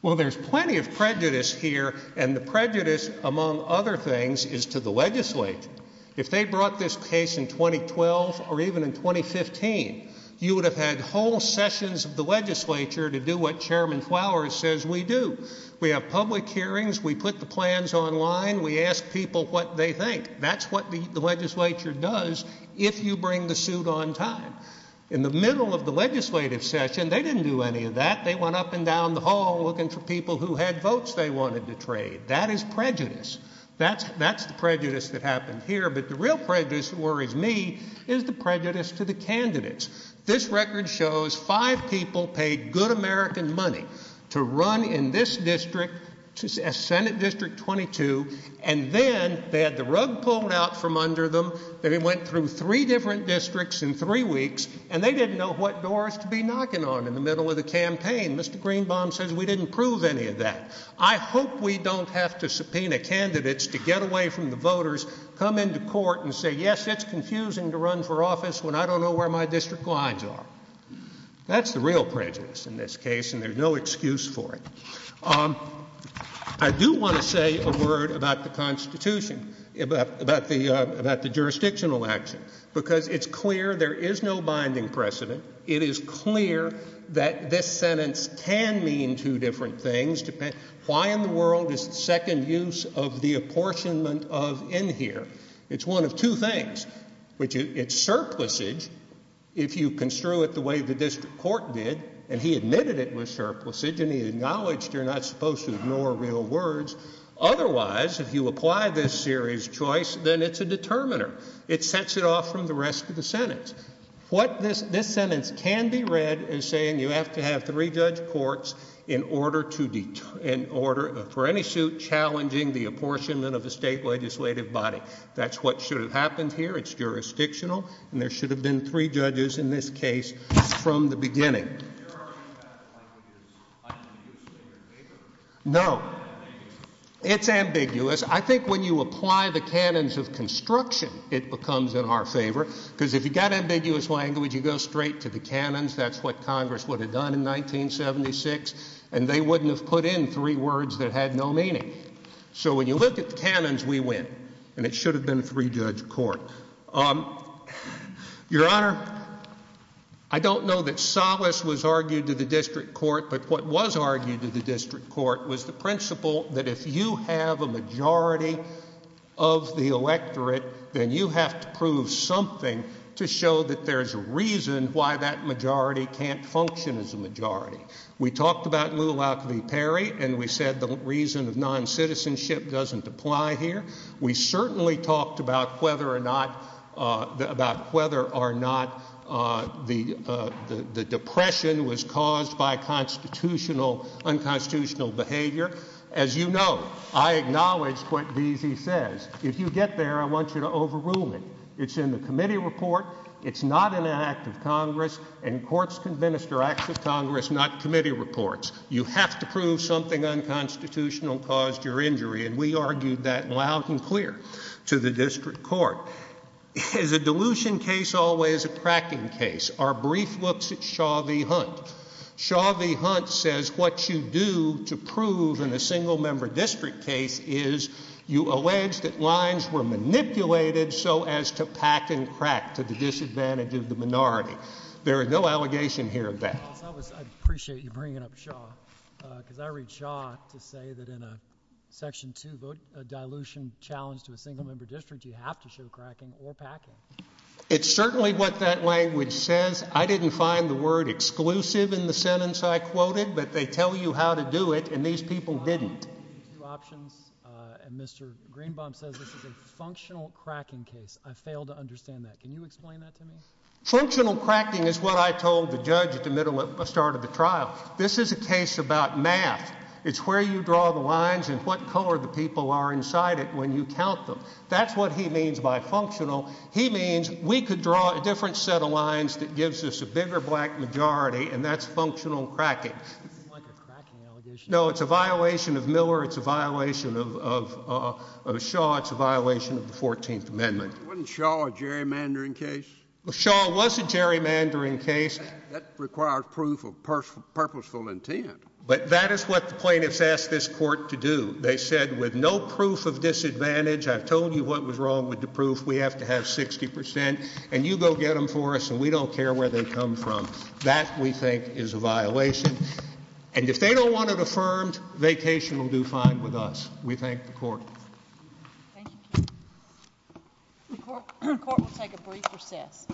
Well, there's plenty of prejudice here, and the prejudice, among other things, is to the legislature. If they brought this case in 2012 or even in 2015, you would have had whole sessions of the legislature to do what Chairman Flowers says we do. We have public hearings. We put the plans online. We ask people what they think. That's what the legislature does if you bring the suit on time. In the middle of the legislative session, they didn't do any of that. They went up and down the hall looking for people who had votes they wanted to trade. That is prejudice. That's the prejudice that happened here, but the real prejudice that worries me is the prejudice to the candidates. This record shows five people paid good American money to run in this district, Senate District 22, and then they had the rug pulled out from under them. They went through three different districts in three weeks, and they didn't know what to be knocking on in the middle of the campaign. Mr. Greenbaum says we didn't prove any of that. I hope we don't have to subpoena candidates to get away from the voters, come into court, and say, yes, it's confusing to run for office when I don't know where my district lines are. That's the real prejudice in this case, and there's no excuse for it. I do want to say a word about the Constitution, about the jurisdictional action, because it's clear there is no binding precedent. It is clear that this sentence can mean two different things. Why in the world is the second use of the apportionment of in here? It's one of two things. It's surplisage if you construe it the way the district court did, and he admitted it was surplisage, and he acknowledged you're not supposed to ignore real words. Otherwise, if you apply this series choice, then it's a determiner. It sets it off from the rest of the sentence. What this sentence can be read is saying you have to have three judge courts in order for any suit challenging the apportionment of a state legislative body. That's what should have happened here. It's jurisdictional, and there should have been three judges in this case from the beginning. No. It's ambiguous. I think when you apply the canons of construction, it becomes in our favor, because if you've ambiguous language, you go straight to the canons. That's what Congress would have done in 1976, and they wouldn't have put in three words that had no meaning. So when you look at the canons, we win, and it should have been a three-judge court. Your Honor, I don't know that solace was argued to the district court, but what was argued to the district court was the principle that if you have a majority of the electorate, then you have to prove something to show that there's a reason why that majority can't function as a majority. We talked about Lou Lauke v. Perry, and we said the reason of non-citizenship doesn't apply here. We certainly talked about whether or not the depression was caused by unconstitutional behavior. As you know, I acknowledged what Deasy says. If you get there, I want you to overrule it. It's in the committee report. It's not in an act of Congress, and courts can minister acts of Congress, not committee reports. You have to prove something unconstitutional caused your injury, and we argued that loud and clear to the district court. Is a dilution case always a cracking case? Our brief looks at Shaw v. Hunt. Shaw v. Hunt says what you do to prove in a single-member district case is you allege that lines were manipulated so as to pack and crack to the disadvantage of the minority. There is no allegation here of that. I appreciate you bringing up Shaw, because I read Shaw to say that in a Section 2 dilution challenge to a single-member district, you have to show cracking or packing. It's certainly what that language says. I didn't find the word exclusive in the sentence I quoted, but they tell you how to do it, and these people didn't.... two options, and Mr. Greenbaum says this is a functional cracking case. I fail to understand that. Can you explain that to me? Functional cracking is what I told the judge at the middle of the start of the trial. This is a case about math. It's where you draw the lines and what color the people are inside it when you count them. That's what he means by functional. He means we could draw a different set of lines that gives us a bigger black majority, and that's functional cracking. It doesn't seem like a cracking allegation. No, it's a violation of Miller. It's a violation of Shaw. It's a violation of the 14th Amendment. Wasn't Shaw a gerrymandering case? Shaw was a gerrymandering case. That requires proof of purposeful intent. But that is what the plaintiffs asked this court to do. They said, with no proof of disadvantage, I've told you what was wrong with the proof. We have to have 60 percent, and you go get them for us, and we don't care where they come from. That, we think, is a violation. And if they don't want it affirmed, Vacation will do fine with us. We thank the court. Thank you, counsel. The court will take a brief recess.